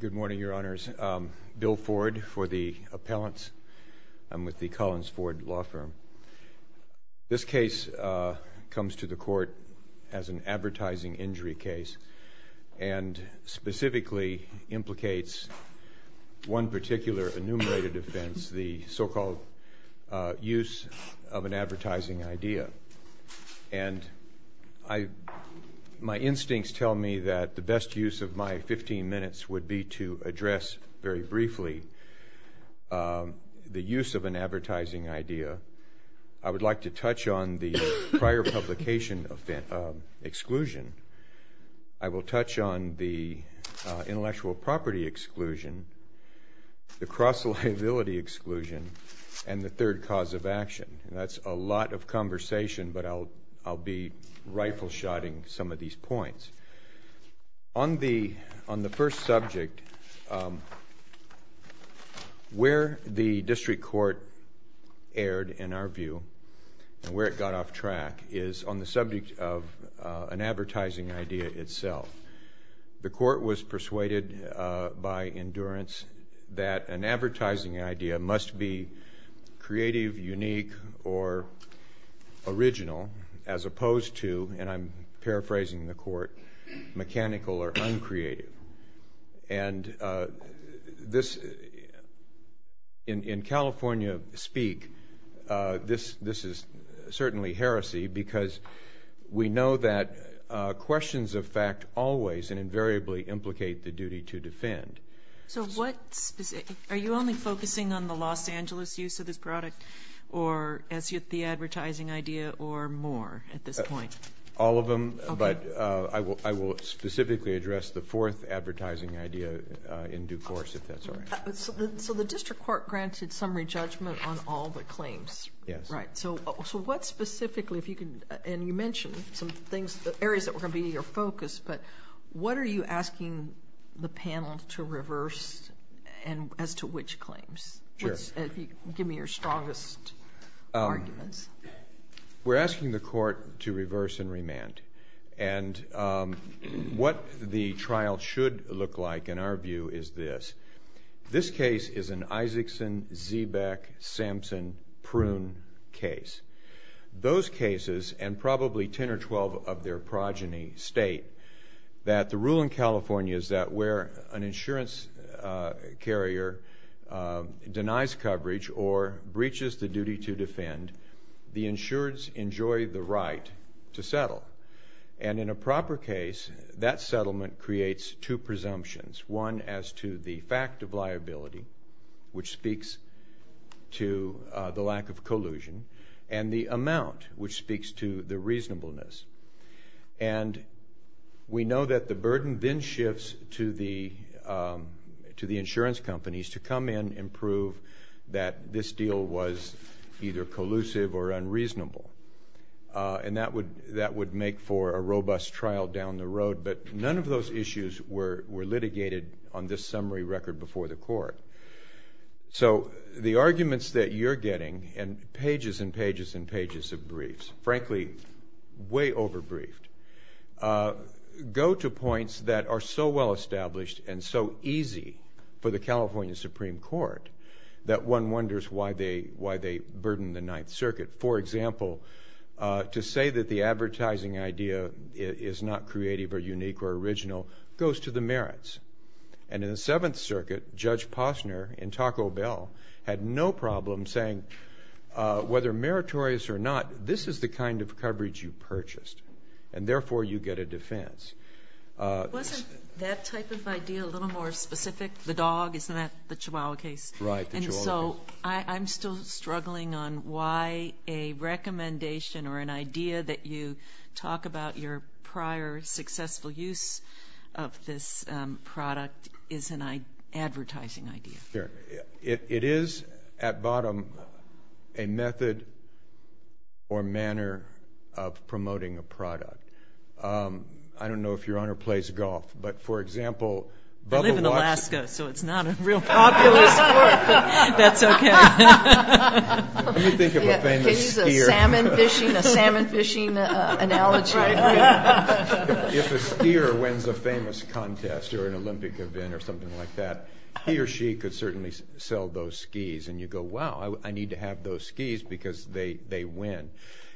Good morning, Your Honors. Bill Ford for the appellants. I'm with the Collins Ford Law Firm. This case comes to the Court as an advertising injury case and specifically implicates one particular enumerated offense, the so-called use of an advertising idea. And my instincts tell me that the best use of my 15 minutes would be to address very briefly the use of an advertising idea. I would like to touch on the prior publication exclusion. I will touch on the intellectual property exclusion, the cross-liability exclusion, and the third cause of action. That's a lot of conversation, but I'll be rifle-shotting some of these points. On the first subject, where the District Court erred, in our view, and where it got off track, is on the subject of an advertising idea itself. The Court was persuaded by endurance that an advertising idea must be creative, unique, or original, as opposed to, and I'm going to quote, mechanical or uncreative. And in California speak, this is certainly heresy because we know that questions of fact always and invariably implicate the duty to defend. Are you only focusing on the Los Angeles use of this product, or the advertising idea, or more at this point? All of them, but I will specifically address the fourth advertising idea in due course, if that's all right. So the District Court granted summary judgment on all the claims? Yes. Right. So what specifically, if you can, and you mentioned some things, areas that were going to be your focus, but what are you asking the panel to reverse as to which claims? Sure. Give me your strongest arguments. We're asking the Court to reverse and remand. And what the trial should look like, in our view, is this. This case is an Isaacson, Zeebeck, Sampson, Prune case. Those cases, and probably ten or twelve of their progeny, state that the rule in California is that where an insurance carrier denies coverage or breaches the duty to defend, the insureds enjoy the right to settle. And in a proper case, that settlement creates two presumptions, one as to the fact of liability, which speaks to the lack of collusion, and the amount, which speaks to the reasonableness. And we know that the burden then shifts to the insurance companies to come in and prove that this deal was either collusive or unreasonable. And that would make for a robust trial down the road, but none of those issues were litigated on this summary record before the Court. So the arguments that you're getting, and pages and pages and pages of briefs, frankly, way over-briefed, go to points that are so well-established and so easy for the California Supreme Court that one wonders why they burden the Ninth Circuit. For example, to say that the advertising idea is not creative or unique or original goes to the merits. And in the Seventh Circuit, Judge Posner in Taco Bell had no problem saying, whether meritorious or not, this is the kind of coverage you purchased, and therefore you get a defense. Wasn't that type of idea a little more specific? The dog, isn't that the chihuahua case? Right, the chihuahua case. And so I'm still struggling on why a recommendation or an idea that you talk about your prior successful use of this product is an advertising idea. It is, at bottom, a method or manner of promoting a product. I don't know if your Honor plays golf, but for example, bubble watch... I live in Alaska, so it's not a real popular sport, but that's okay. Can you think of a famous skier? Can you use a salmon fishing analogy? If a skier wins a famous contest or an Olympic event or something like that, he or she could certainly sell those skis, and you go, wow, I need to have those skis because they win.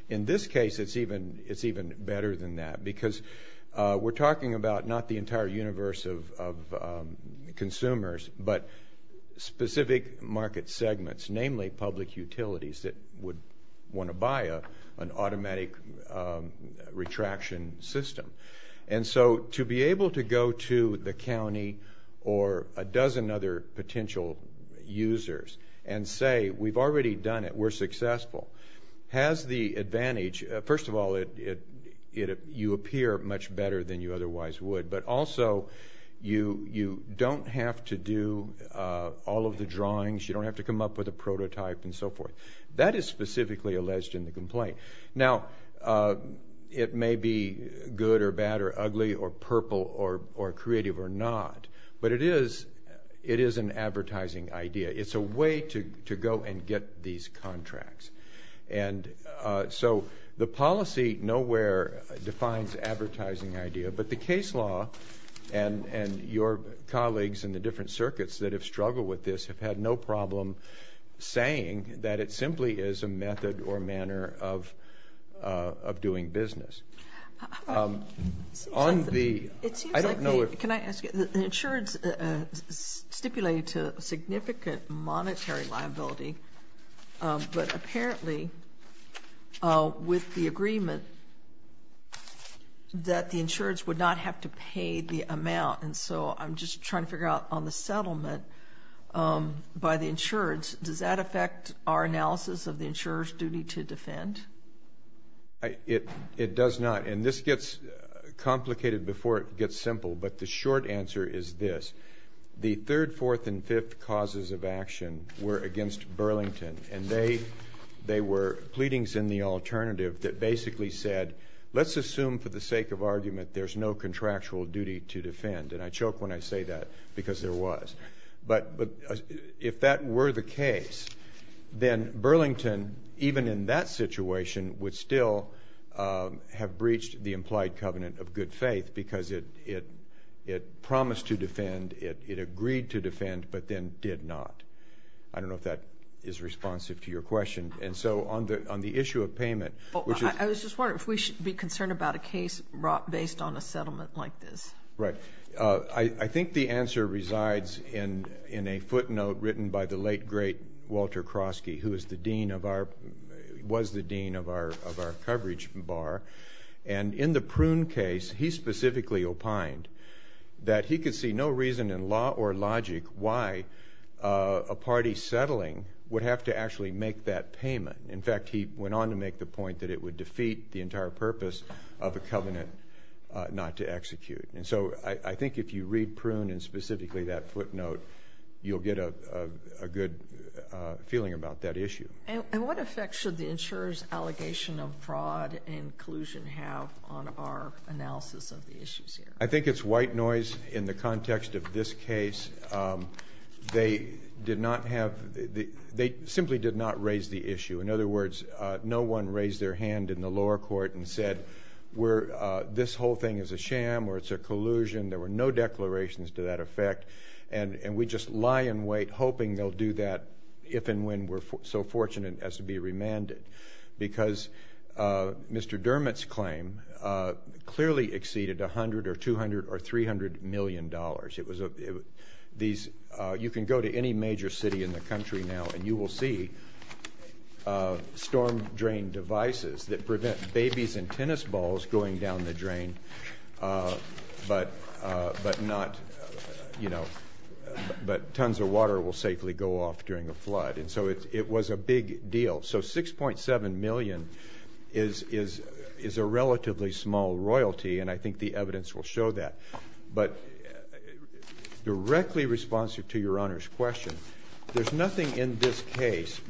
In this case, it's even better than that, because we're talking about not the entire universe of consumers, but specific market segments, namely public utilities that would want to buy an automatic retraction system. And so to be able to go to the county or a dozen other potential users and say, we've already done it, we're successful, has the advantage... First of all, you appear much better than you otherwise would, but also you don't have to do all of the drawings, you don't have to come up with a prototype and so forth. That is specifically alleged in the complaint. Now, it may be good or bad or ugly or purple or creative or not, but it is an advertising idea. It's a way to go and get these contracts. And so the policy nowhere defines advertising idea, but the case law and your colleagues in the different circuits that have struggled with this have had no problem saying that it simply is a method or manner of doing business. On the... It seems like... I don't know if... Can I ask you, the insurance stipulated to significant monetary liability, but apparently with the agreement that the insurance would not have to pay the amount. And so I'm just trying to figure out on the settlement by the insurance, does that affect our analysis of the insurer's duty to defend? It does not. And this gets complicated before it gets simple, but the short answer is this. The third, fourth, and fifth causes of action were against Burlington, and they were pleadings in the alternative that basically said, let's assume for the sake of argument there's no contractual duty to defend. And I choke when I say that because there was. But if that were the case, then Burlington, even in that situation, would still have breached the implied covenant of good faith because it promised to defend, it agreed to defend, but then did not. I don't know if that is responsive to your question. And so on the issue of payment, which is... I was just wondering if we should be concerned about a case brought based on a settlement like this. Right. I think the answer resides in a footnote written by the late, great Walter Krosky, who was the dean of our coverage bar. And in the Prune case, he specifically opined that he could see no reason in law or logic why a party settling would have to actually make that payment. In fact, he went on to make the point that it would defeat the entire purpose of a covenant not to execute. And so I think if you read Prune and specifically that footnote, you'll get a good feeling about that issue. And what effect should the insurer's allegation of fraud and collusion have on our analysis of the issues here? I think it's white noise in the context of this case. They did not have... They simply did not raise the issue. In other words, no one raised their hand in the lower court and said, this whole thing is a sham or it's a collusion. There were no declarations to that effect. And we just lie in wait, hoping they'll do that if and when we're so fortunate as to be remanded. Because Mr. Dermott's claim clearly exceeded $100 or $200 or $300 million. You can go to any major city in the country now and you will see storm drain devices that prevent babies and tennis balls going down the drain but tons of water will safely go off during a flood. And so it was a big deal. So $6.7 million is a relatively small royalty and I think the evidence will show that. But directly responsive to Your Honor's question, there's nothing in this case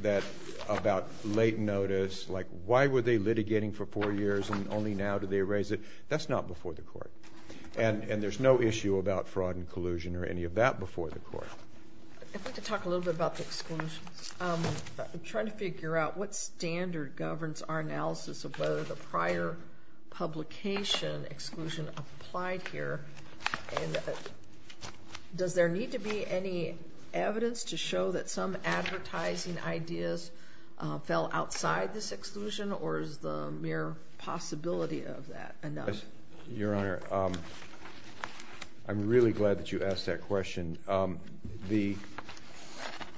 about late notice, like why were they litigating for four years and only now did they raise it? That's not before the court. And there's no issue about fraud and collusion or any of that before the court. I'd like to talk a little bit about the exclusions. I'm trying to figure out what standard governs our analysis of whether the prior publication exclusion applied here. And does there need to be any evidence to show that some advertising ideas fell outside this exclusion or is the mere possibility of that enough? Your Honor, I'm really glad that you asked that question. The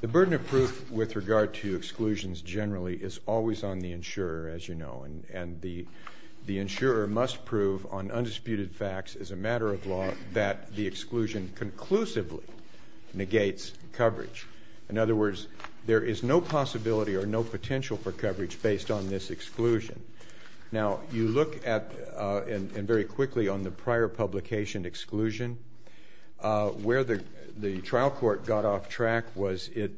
burden of proof with regard to exclusions generally is always on the insurer, as you know. And the insurer must prove on undisputed facts as a matter of law that the exclusion conclusively negates coverage. In other words, there is no possibility or no potential for coverage based on this exclusion. Now, you look at, and very quickly, on the prior publication exclusion, where the trial court got off track was it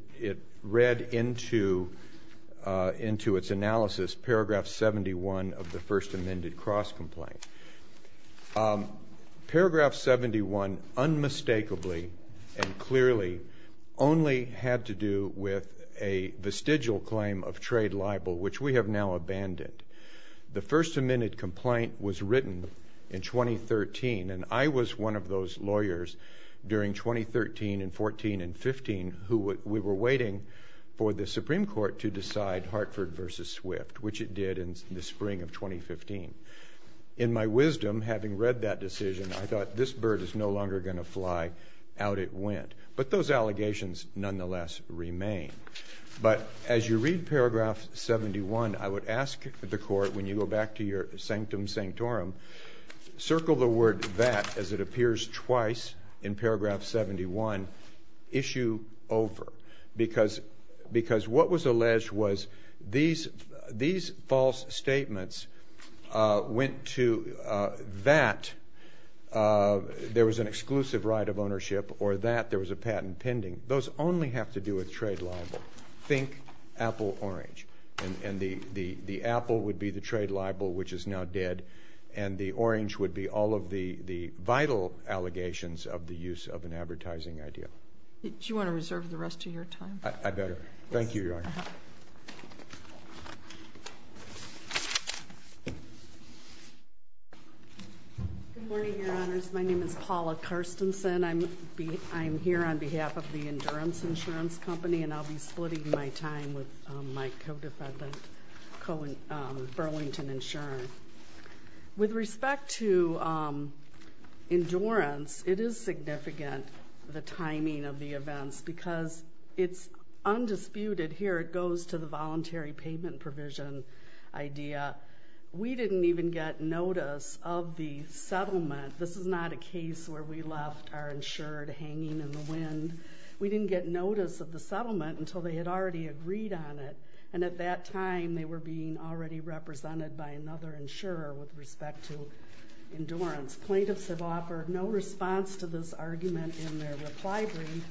read into its analysis paragraph 71 of the First Amended Cross Complaint. Paragraph 71 unmistakably and clearly only had to do with a vestigial claim of trade libel, which we have now abandoned. The First Amended Complaint was written in 2013, and I was one of those lawyers during 2013 and 14 and 15 who we were waiting for the Supreme Court to decide Hartford v. Swift, which it did in the spring of 2015. In my wisdom, having read that decision, I thought, this bird is no longer going to fly. Out it went. But those allegations nonetheless remain. But as you read paragraph 71, I would ask the court, when you go back to your sanctum sanctorum, circle the word that as it appears twice in paragraph 71, issue over. Because what was alleged was these false statements went to that there was an exclusive right of ownership or that there was a patent pending. Those only have to do with trade libel. Think apple orange. And the apple would be the trade libel, which is now dead, and the orange would be all of the vital allegations of the use of an advertising idea. Do you want to reserve the rest of your time? I better. Thank you, Your Honor. Good morning, Your Honors. My name is Paula Carstensen. I'm here on behalf of the Endurance Insurance Company and I'll be splitting my time with my co-defendant, Burlington Insurance. With respect to Endurance, it is significant, the timing of the events, because it's undisputed here it goes to the voluntary payment provision idea. We didn't even get notice of the settlement. This is not a case where we left our insured hanging in the wind. We didn't get notice of the settlement until they had already agreed on it. And at that time, they were being already represented by another insurer with respect to Endurance. Plaintiffs have offered no response to this argument in their reply brief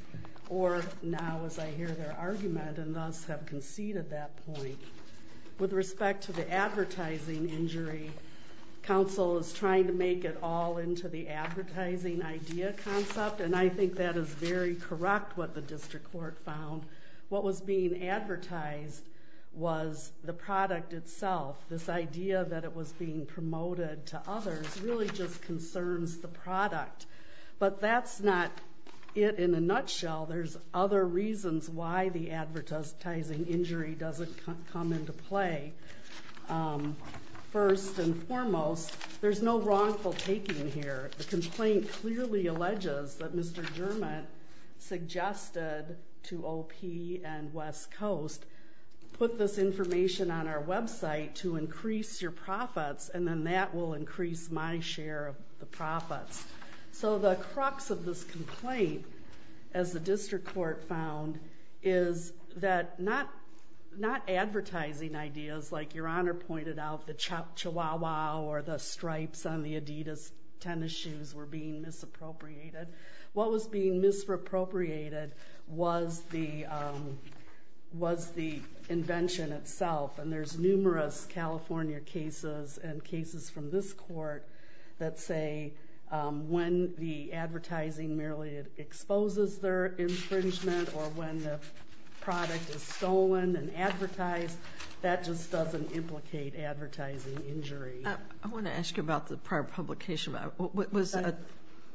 or now as I hear their argument and thus have conceded that point. With respect to the advertising injury, counsel is trying to make it all into the advertising idea concept and I think that is very correct what the district court found. What was being advertised was the product itself. This idea that it was being promoted to others really just concerns the product. But that's not it in a nutshell. There's other reasons why the advertising injury doesn't come into play. First and foremost, there's no wrongful taking here. The complaint clearly alleges that Mr. Germant suggested to OP and West Coast put this information on our website to increase your profits and then that will increase my share of the profits. So the crux of this complaint as the district court found is that not advertising ideas like your honor pointed out the Chihuahua or the stripes on the Adidas tennis shoes were being misappropriated. What was being misappropriated was the was the invention itself and there's numerous California cases and cases from this court that say when the advertising merely exposes their infringement or when the product is stolen and advertised that just doesn't implicate advertising injury. I want to ask you about the prior publication. Was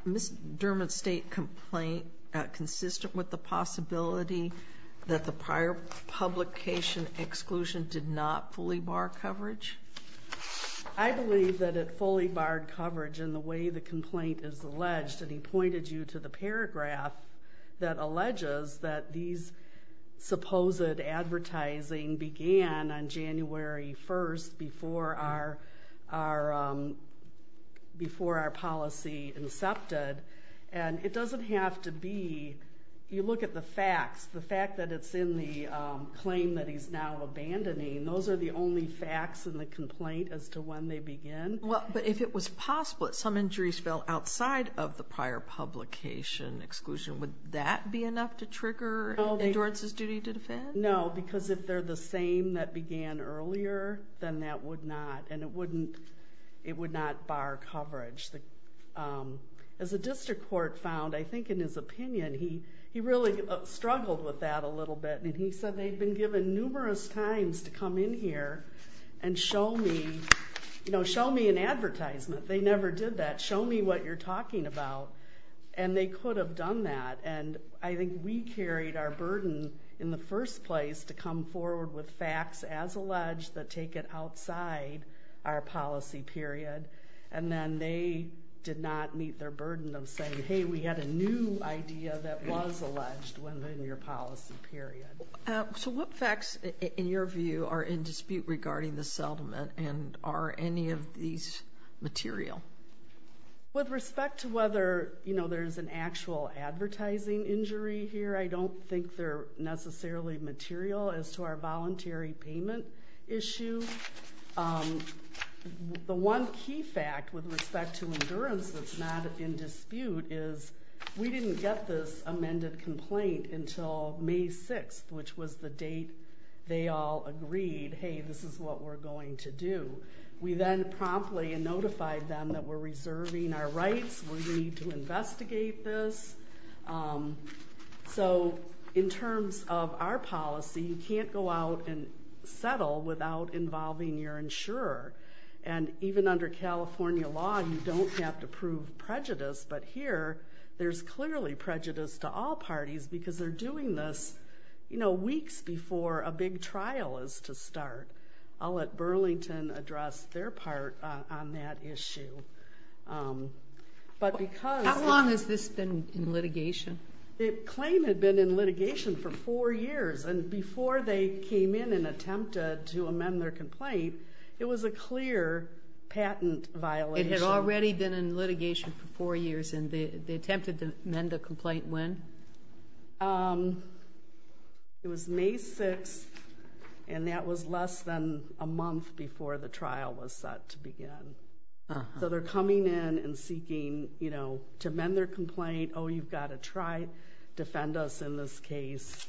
Ms. Germant's state complaint consistent with the possibility that the prior publication exclusion did not fully bar coverage? I believe that it fully barred coverage in the way the complaint is alleged and he pointed you to the paragraph that alleges that these supposed advertising began on January 1st before our before our policy incepted and it doesn't have to be you look at the facts the fact that it's in the claim that he's now abandoning those are the only facts in the complaint as to when they begin. But if it was possible that some injuries fell outside of the prior publication exclusion would that be enough to trigger Endurance's duty to defend? No because if they're the same that began earlier then that would not and it would not bar coverage. As the district court found I think in his opinion he really struggled with that a little bit and he said they've been given numerous times to come in here and show me you know show me an advertisement they never did that show me what you're talking about and they could have done that and I think we carried our burden in the first place to come forward with facts as alleged that take it outside our policy period and then they did not meet their burden of saying hey we had a new idea that was alleged within your policy period. So what facts in your view are in dispute regarding the settlement and are any of these material? With respect to whether you know there's an actual advertising injury here I don't think they're necessarily material as to our voluntary payment issue the one key fact with respect to Endurance that's not in dispute is we didn't get this amended complaint until May 6th which was the date they all agreed hey this is what we're going to do we then promptly notified them that we're reserving our rights we need to investigate this so in terms of our policy you can't go out and settle without involving your insurer and even under California law you don't have to prove prejudice but here there's clearly prejudice to all parties because they're doing this weeks before a big trial is to start I'll let Burlington address their part on that issue How long has this been in litigation? The claim had been in litigation for four years and before they came in and attempted to amend their complaint it was a clear patent violation It had already been in litigation for four years and they attempted to amend the complaint when? It was May 6th and that was less than a month before the trial was set to begin so they're coming in and seeking you know to amend their complaint oh you've got to try defend us in this case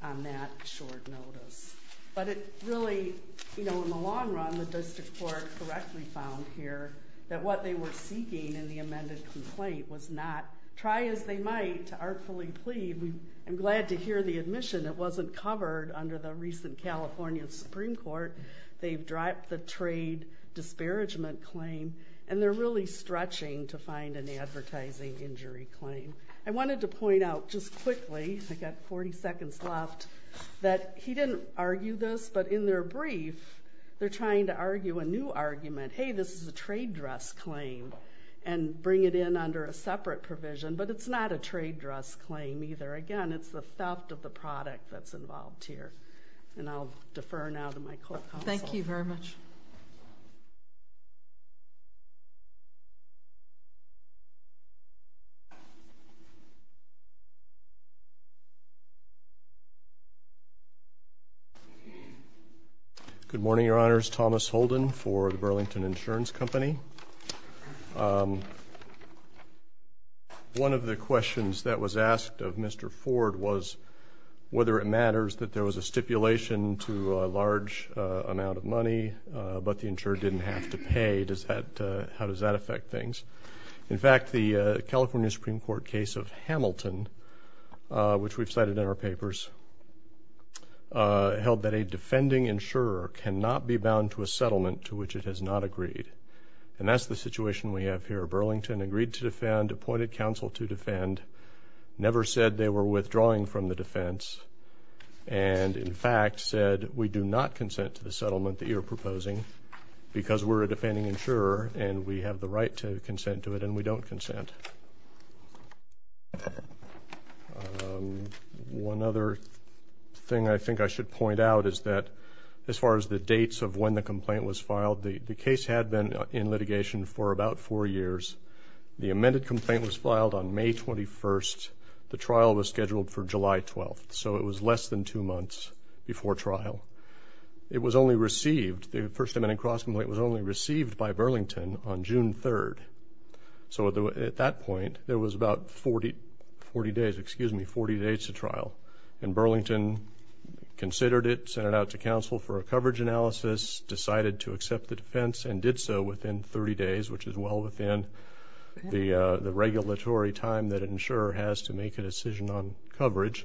on that short notice but it really you know in the long run the district court correctly found here that what they were seeking in the amended complaint was not try as they might to artfully plead I'm glad to hear the admission it wasn't covered under the recent California Supreme Court they've dropped the trade disparagement claim and they're really stretching to find an advertising injury claim I wanted to point out just quickly I've got 40 seconds left that he didn't argue this but in their brief they're trying to argue a new argument hey this is a trade dress claim and bring it in under a separate provision but it's not a trade dress claim either again it's the theft of the product that's involved here and I'll defer now to my court counsel Thank you very much Good morning your honors Thomas Holden for the Burlington Insurance Company um one of the questions that was asked of Mr. Ford was whether it matters that there was a stipulation to a large amount of money but the insurer didn't have to pay does that how does that affect things in fact the California Supreme Court case of Hamilton which we've cited in our papers held that a defending insurer cannot be bound to a settlement to which it has not agreed and that's the situation we have here Burlington agreed to defend appointed counsel to defend never said they were withdrawing from the defense and in fact said we do not consent to the settlement that you're proposing because we're a defending insurer and we have the right to consent to it and we don't consent one other thing I think I should point out is that as far as the dates of when the trial began in litigation for about 4 years the amended complaint was filed on May 21st the trial was scheduled for July 12th so it was less than 2 months before trial it was only received by Burlington on June 3rd so at that point there was about 40 days to trial and Burlington considered it sent it out to counsel for a coverage analysis decided to accept the defense and did so within 30 days which is well within the regulatory time that an insurer has to make a decision on coverage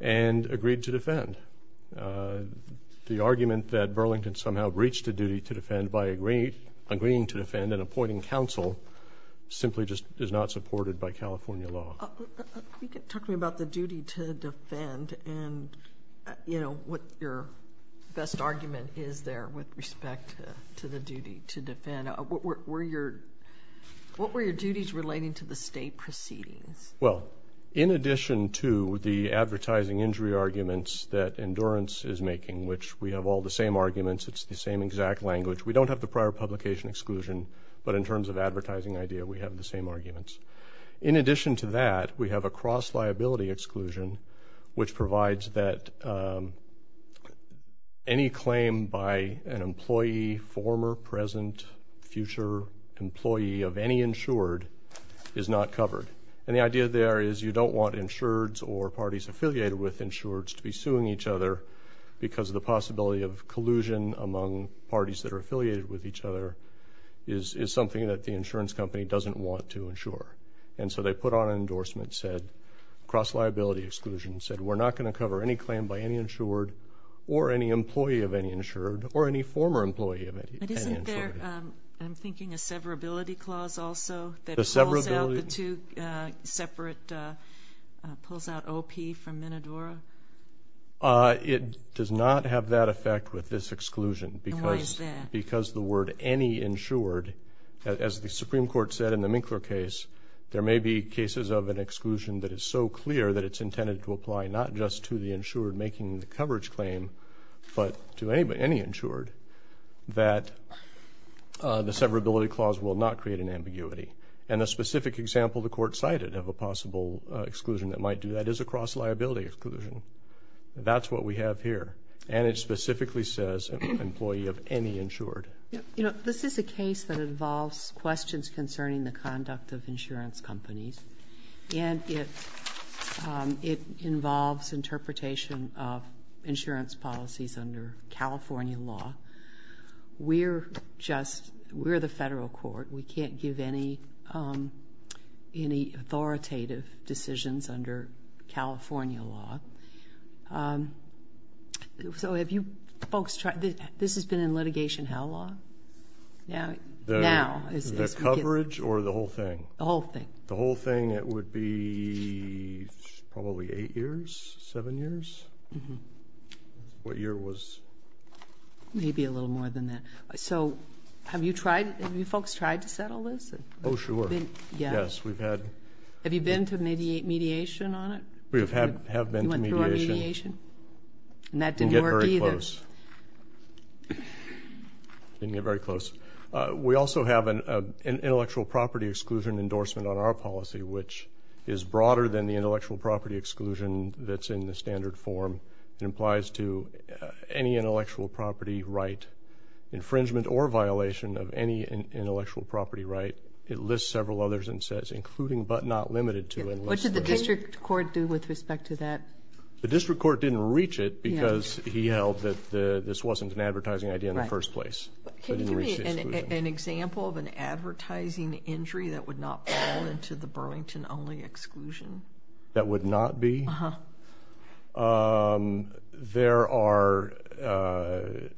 and agreed to defend the argument that Burlington somehow breached a duty to defend by agreeing to defend and appointing counsel simply just is not supported by California law talk to me about the duty to defend and you know what your best argument is there with respect to the duty to defend what were your duties relating to the state proceedings well in addition to the advertising injury arguments that endurance is making which we have all the same arguments it's the same exact language we don't have the prior publication exclusion but in terms of advertising idea we have the same arguments in addition to that we have a cross liability exclusion which provides that any claim by an employee former present future employee of any insured is not covered and the idea there is you don't want insureds or parties affiliated with insureds to be suing each other because of the possibility of collusion among parties that are affiliated with each other is something that the insurance company doesn't want to insure and so they put on an endorsement said cross liability exclusion said we're not going to cover any claim by any insured or any employee of any insured or any former employee of any insured I'm thinking a severability clause also that pulls out the two separate pulls out OP from Minadora it does not have that effect with this exclusion because the word any insured as the Supreme Court said in the Minkler case there may be cases of an intended to apply not just to the insured making the coverage claim but to any insured that the severability clause will not create an ambiguity and a specific example the court cited of a possible exclusion that might do that is a cross liability exclusion that's what we have here and it specifically says employee of any insured you know this is a case that involves questions concerning the conduct of insurance companies and it it involves interpretation of insurance policies under California law we're just we're the federal court we can't give any any authoritative decisions under California law so have you folks tried this has been in litigation how long now is this coverage or the whole thing the whole thing it would be probably eight years seven years what year was maybe a little more than that so have you tried have you folks tried to settle this oh sure yes have you been to mediation on it we have been to mediation and that didn't work either didn't get very close we also have an intellectual property exclusion endorsement on our policy which is broader than the intellectual property exclusion that's in the standard form it implies to any intellectual property right infringement or violation of any intellectual property right it lists several others and says including but not limited to what should the district court do with respect to that the district court didn't reach it because he held that this wasn't an advertising idea in the first place an example of an advertising injury that would not fall into the Burlington only exclusion that would not be there are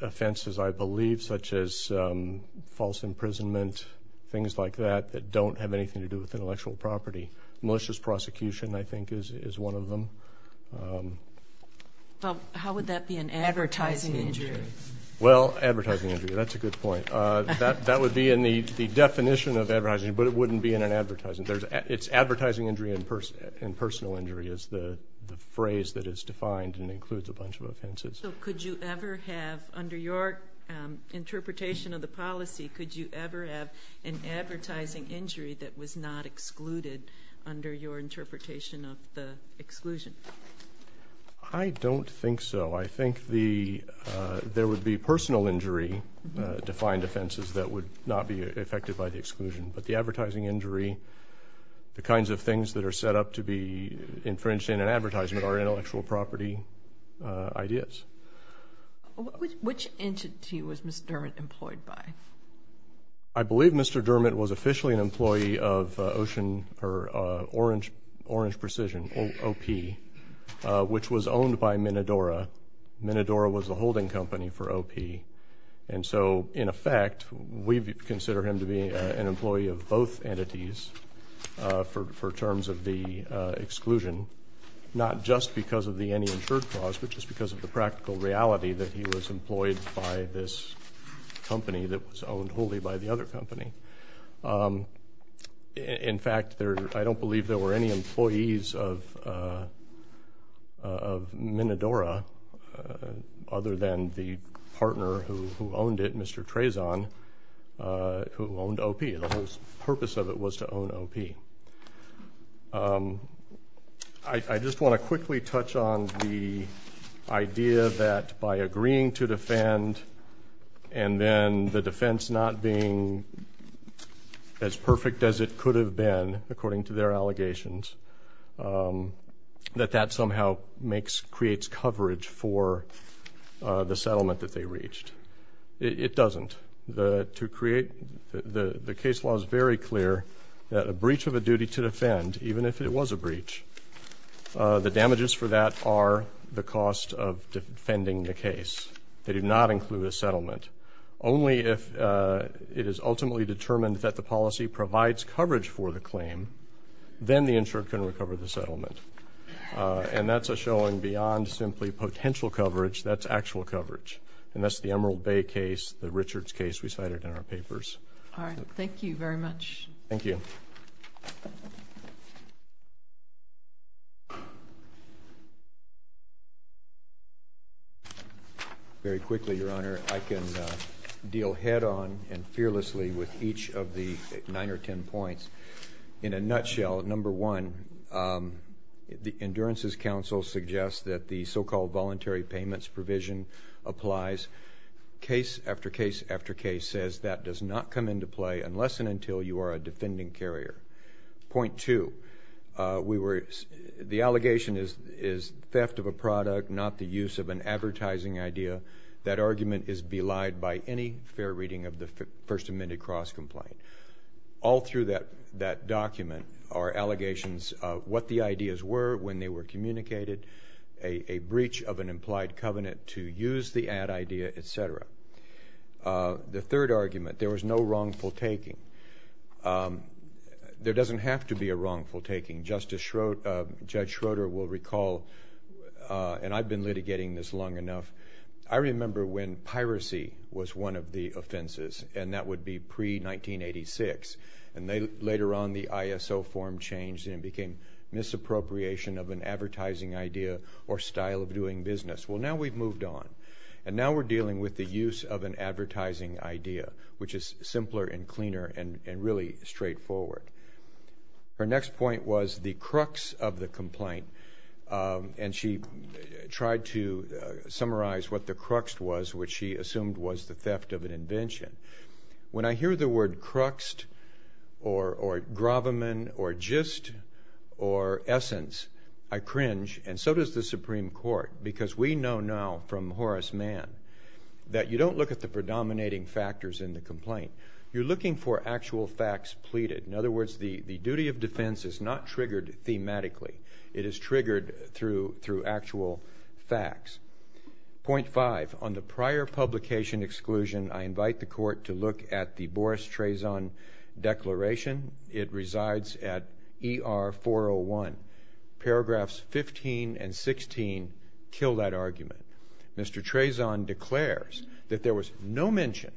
offenses I believe such as false imprisonment things like that that don't have anything to do with intellectual property malicious prosecution I think is one of them how would that be an advertising injury well advertising injury that's a good point that would be in the definition of advertising injury but it wouldn't be in an advertising it's advertising injury and personal injury is the phrase that is defined and includes a bunch of offenses so could you ever have under your interpretation of the policy could you ever have an advertising injury that was not excluded under your interpretation of the exclusion I don't think so I think the there would be personal injury defined offenses that would not be affected by the exclusion but the advertising injury the kinds of things that are set up to be infringed in an advertisement are intellectual property ideas which entity was Mr. Dermott employed by I believe Mr. Dermott was officially an employee of Orange Precision OP which was owned by Minodora. Minodora was the holding company for OP and so in effect we consider him to be an employee of both entities for terms of the exclusion not just because of the any insured clause but just because of the practical reality that he was employed by this company that was owned wholly by the other company in fact I don't believe there were any employees of Minodora other than the partner who owned it Mr. Trazon who owned OP the purpose of it was to own OP I just want to quickly touch on the idea that by agreeing to defend and then the defense not being as perfect as it could have been according to their allegations that that somehow creates coverage for the settlement that they reached it doesn't the case law is very clear that a breach of a duty to defend even if it was a breach the damages for that are the cost of defending the case they do not include a settlement only if it is ultimately determined that the policy provides coverage for the claim then the insured can recover the settlement and that's a showing beyond simply potential coverage that's actual coverage and that's the Emerald Bay case the Richards case we cited in our papers alright thank you very much thank you very quickly your honor I can deal head on and fearlessly with each of the nine or ten points in a nutshell number one the endurances council suggests that the so called voluntary payments provision applies case after case after case says that does not come into play unless and until you are a defending carrier point two we were the allegation is theft of a product not the use of an advertising idea that argument is belied by any fair reading of the first amended cross complaint all through that document are allegations of what the ideas were when they were communicated a breach of an implied covenant to use the ad idea etc the third argument there was no wrongful taking there doesn't have to be a wrongful taking justice Schroeder will recall and I've been litigating this long enough I remember when piracy was one of the offenses and that would be pre-1986 and later on the ISO form changed and it became misappropriation of an advertising idea or style of doing business well now we've moved on and now we're dealing with the use of an advertising idea which is simpler and cleaner and really straightforward her next point was the crux of the complaint and she tried to summarize what the crux was which she assumed was the theft of an invention when I hear the word crux or gravamen or gist or essence I cringe and so does the Supreme Court because we know now from Horace Mann that you don't look at the predominating factors in the complaint you're looking for actual facts pleaded in other words the duty of defense is not triggered thematically it is triggered through actual facts point five on the prior publication exclusion I invite the court to look at the Boris Trazon declaration it resides at ER 401 paragraphs 15 and 16 kill that argument Mr. Trazon declares that there was no mention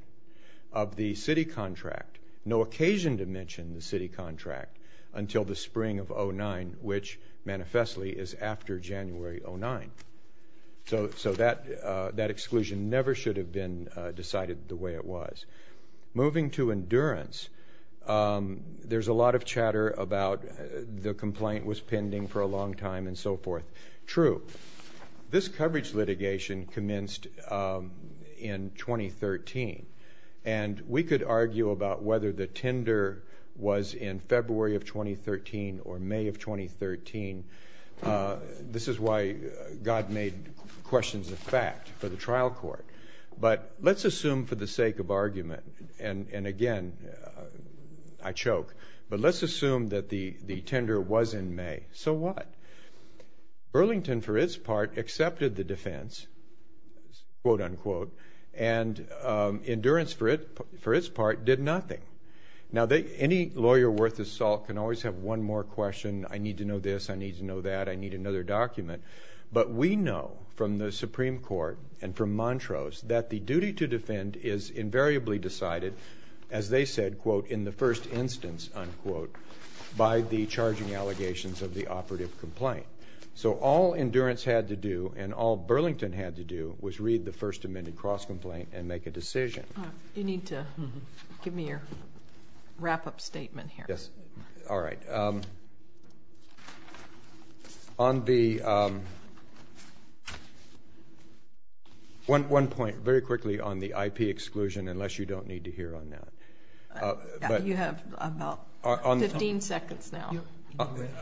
of the city contract no occasion to mention the city contract until the spring of 2009 which manifestly is after January 2009 so that exclusion never should have been decided the way it was moving to endurance there's a lot of chatter about the complaint was pending for a long time and so forth true this coverage litigation commenced in 2013 and we could argue about whether the May of 2013 this is why God made questions of fact for the trial court but let's assume for the sake of argument and again I choke but let's assume that the tender was in May so what Burlington for its part accepted the defense quote unquote and endurance for its part did nothing now any lawyer worth his salt can always have one more question I need to know this, I need to know that, I need another document but we know from the Supreme Court and from Montrose that the duty to defend is invariably decided as they said quote in the first instance unquote by the charging allegations of the operative complaint so all endurance had to do and all Burlington had to do was read the first amended cross complaint and make a decision you need to give me your wrap up statement here alright on the one point very quickly on the IP exclusion unless you don't need to hear on that you have about 15 seconds now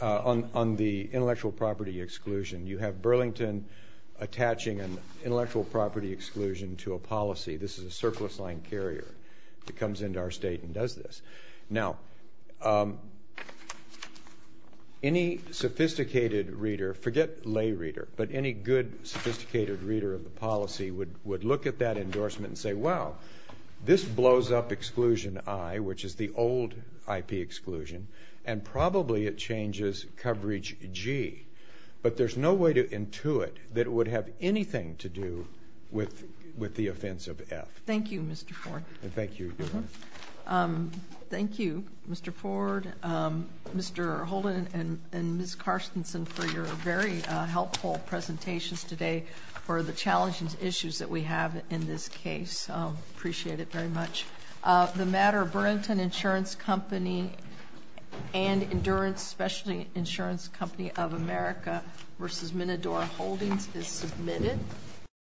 on the intellectual property exclusion you have Burlington attaching an intellectual property exclusion to a policy this is a surplus line carrier that comes into our state and does this now any sophisticated reader forget lay reader but any good sophisticated reader of the policy would look at that endorsement and say wow this blows up exclusion I which is the old IP exclusion and probably it changes coverage G but there's no way to intuit that it would have anything to do with the offensive F thank you Mr. Ford thank you thank you Mr. Ford Mr. Holden and Ms. Carstensen for your very helpful presentations today for the challenging issues that we have in this case appreciate it very much the matter of Burlington Insurance Company and Endurance Specialty Insurance Company of America versus Minnedora Mr. Holden is submitted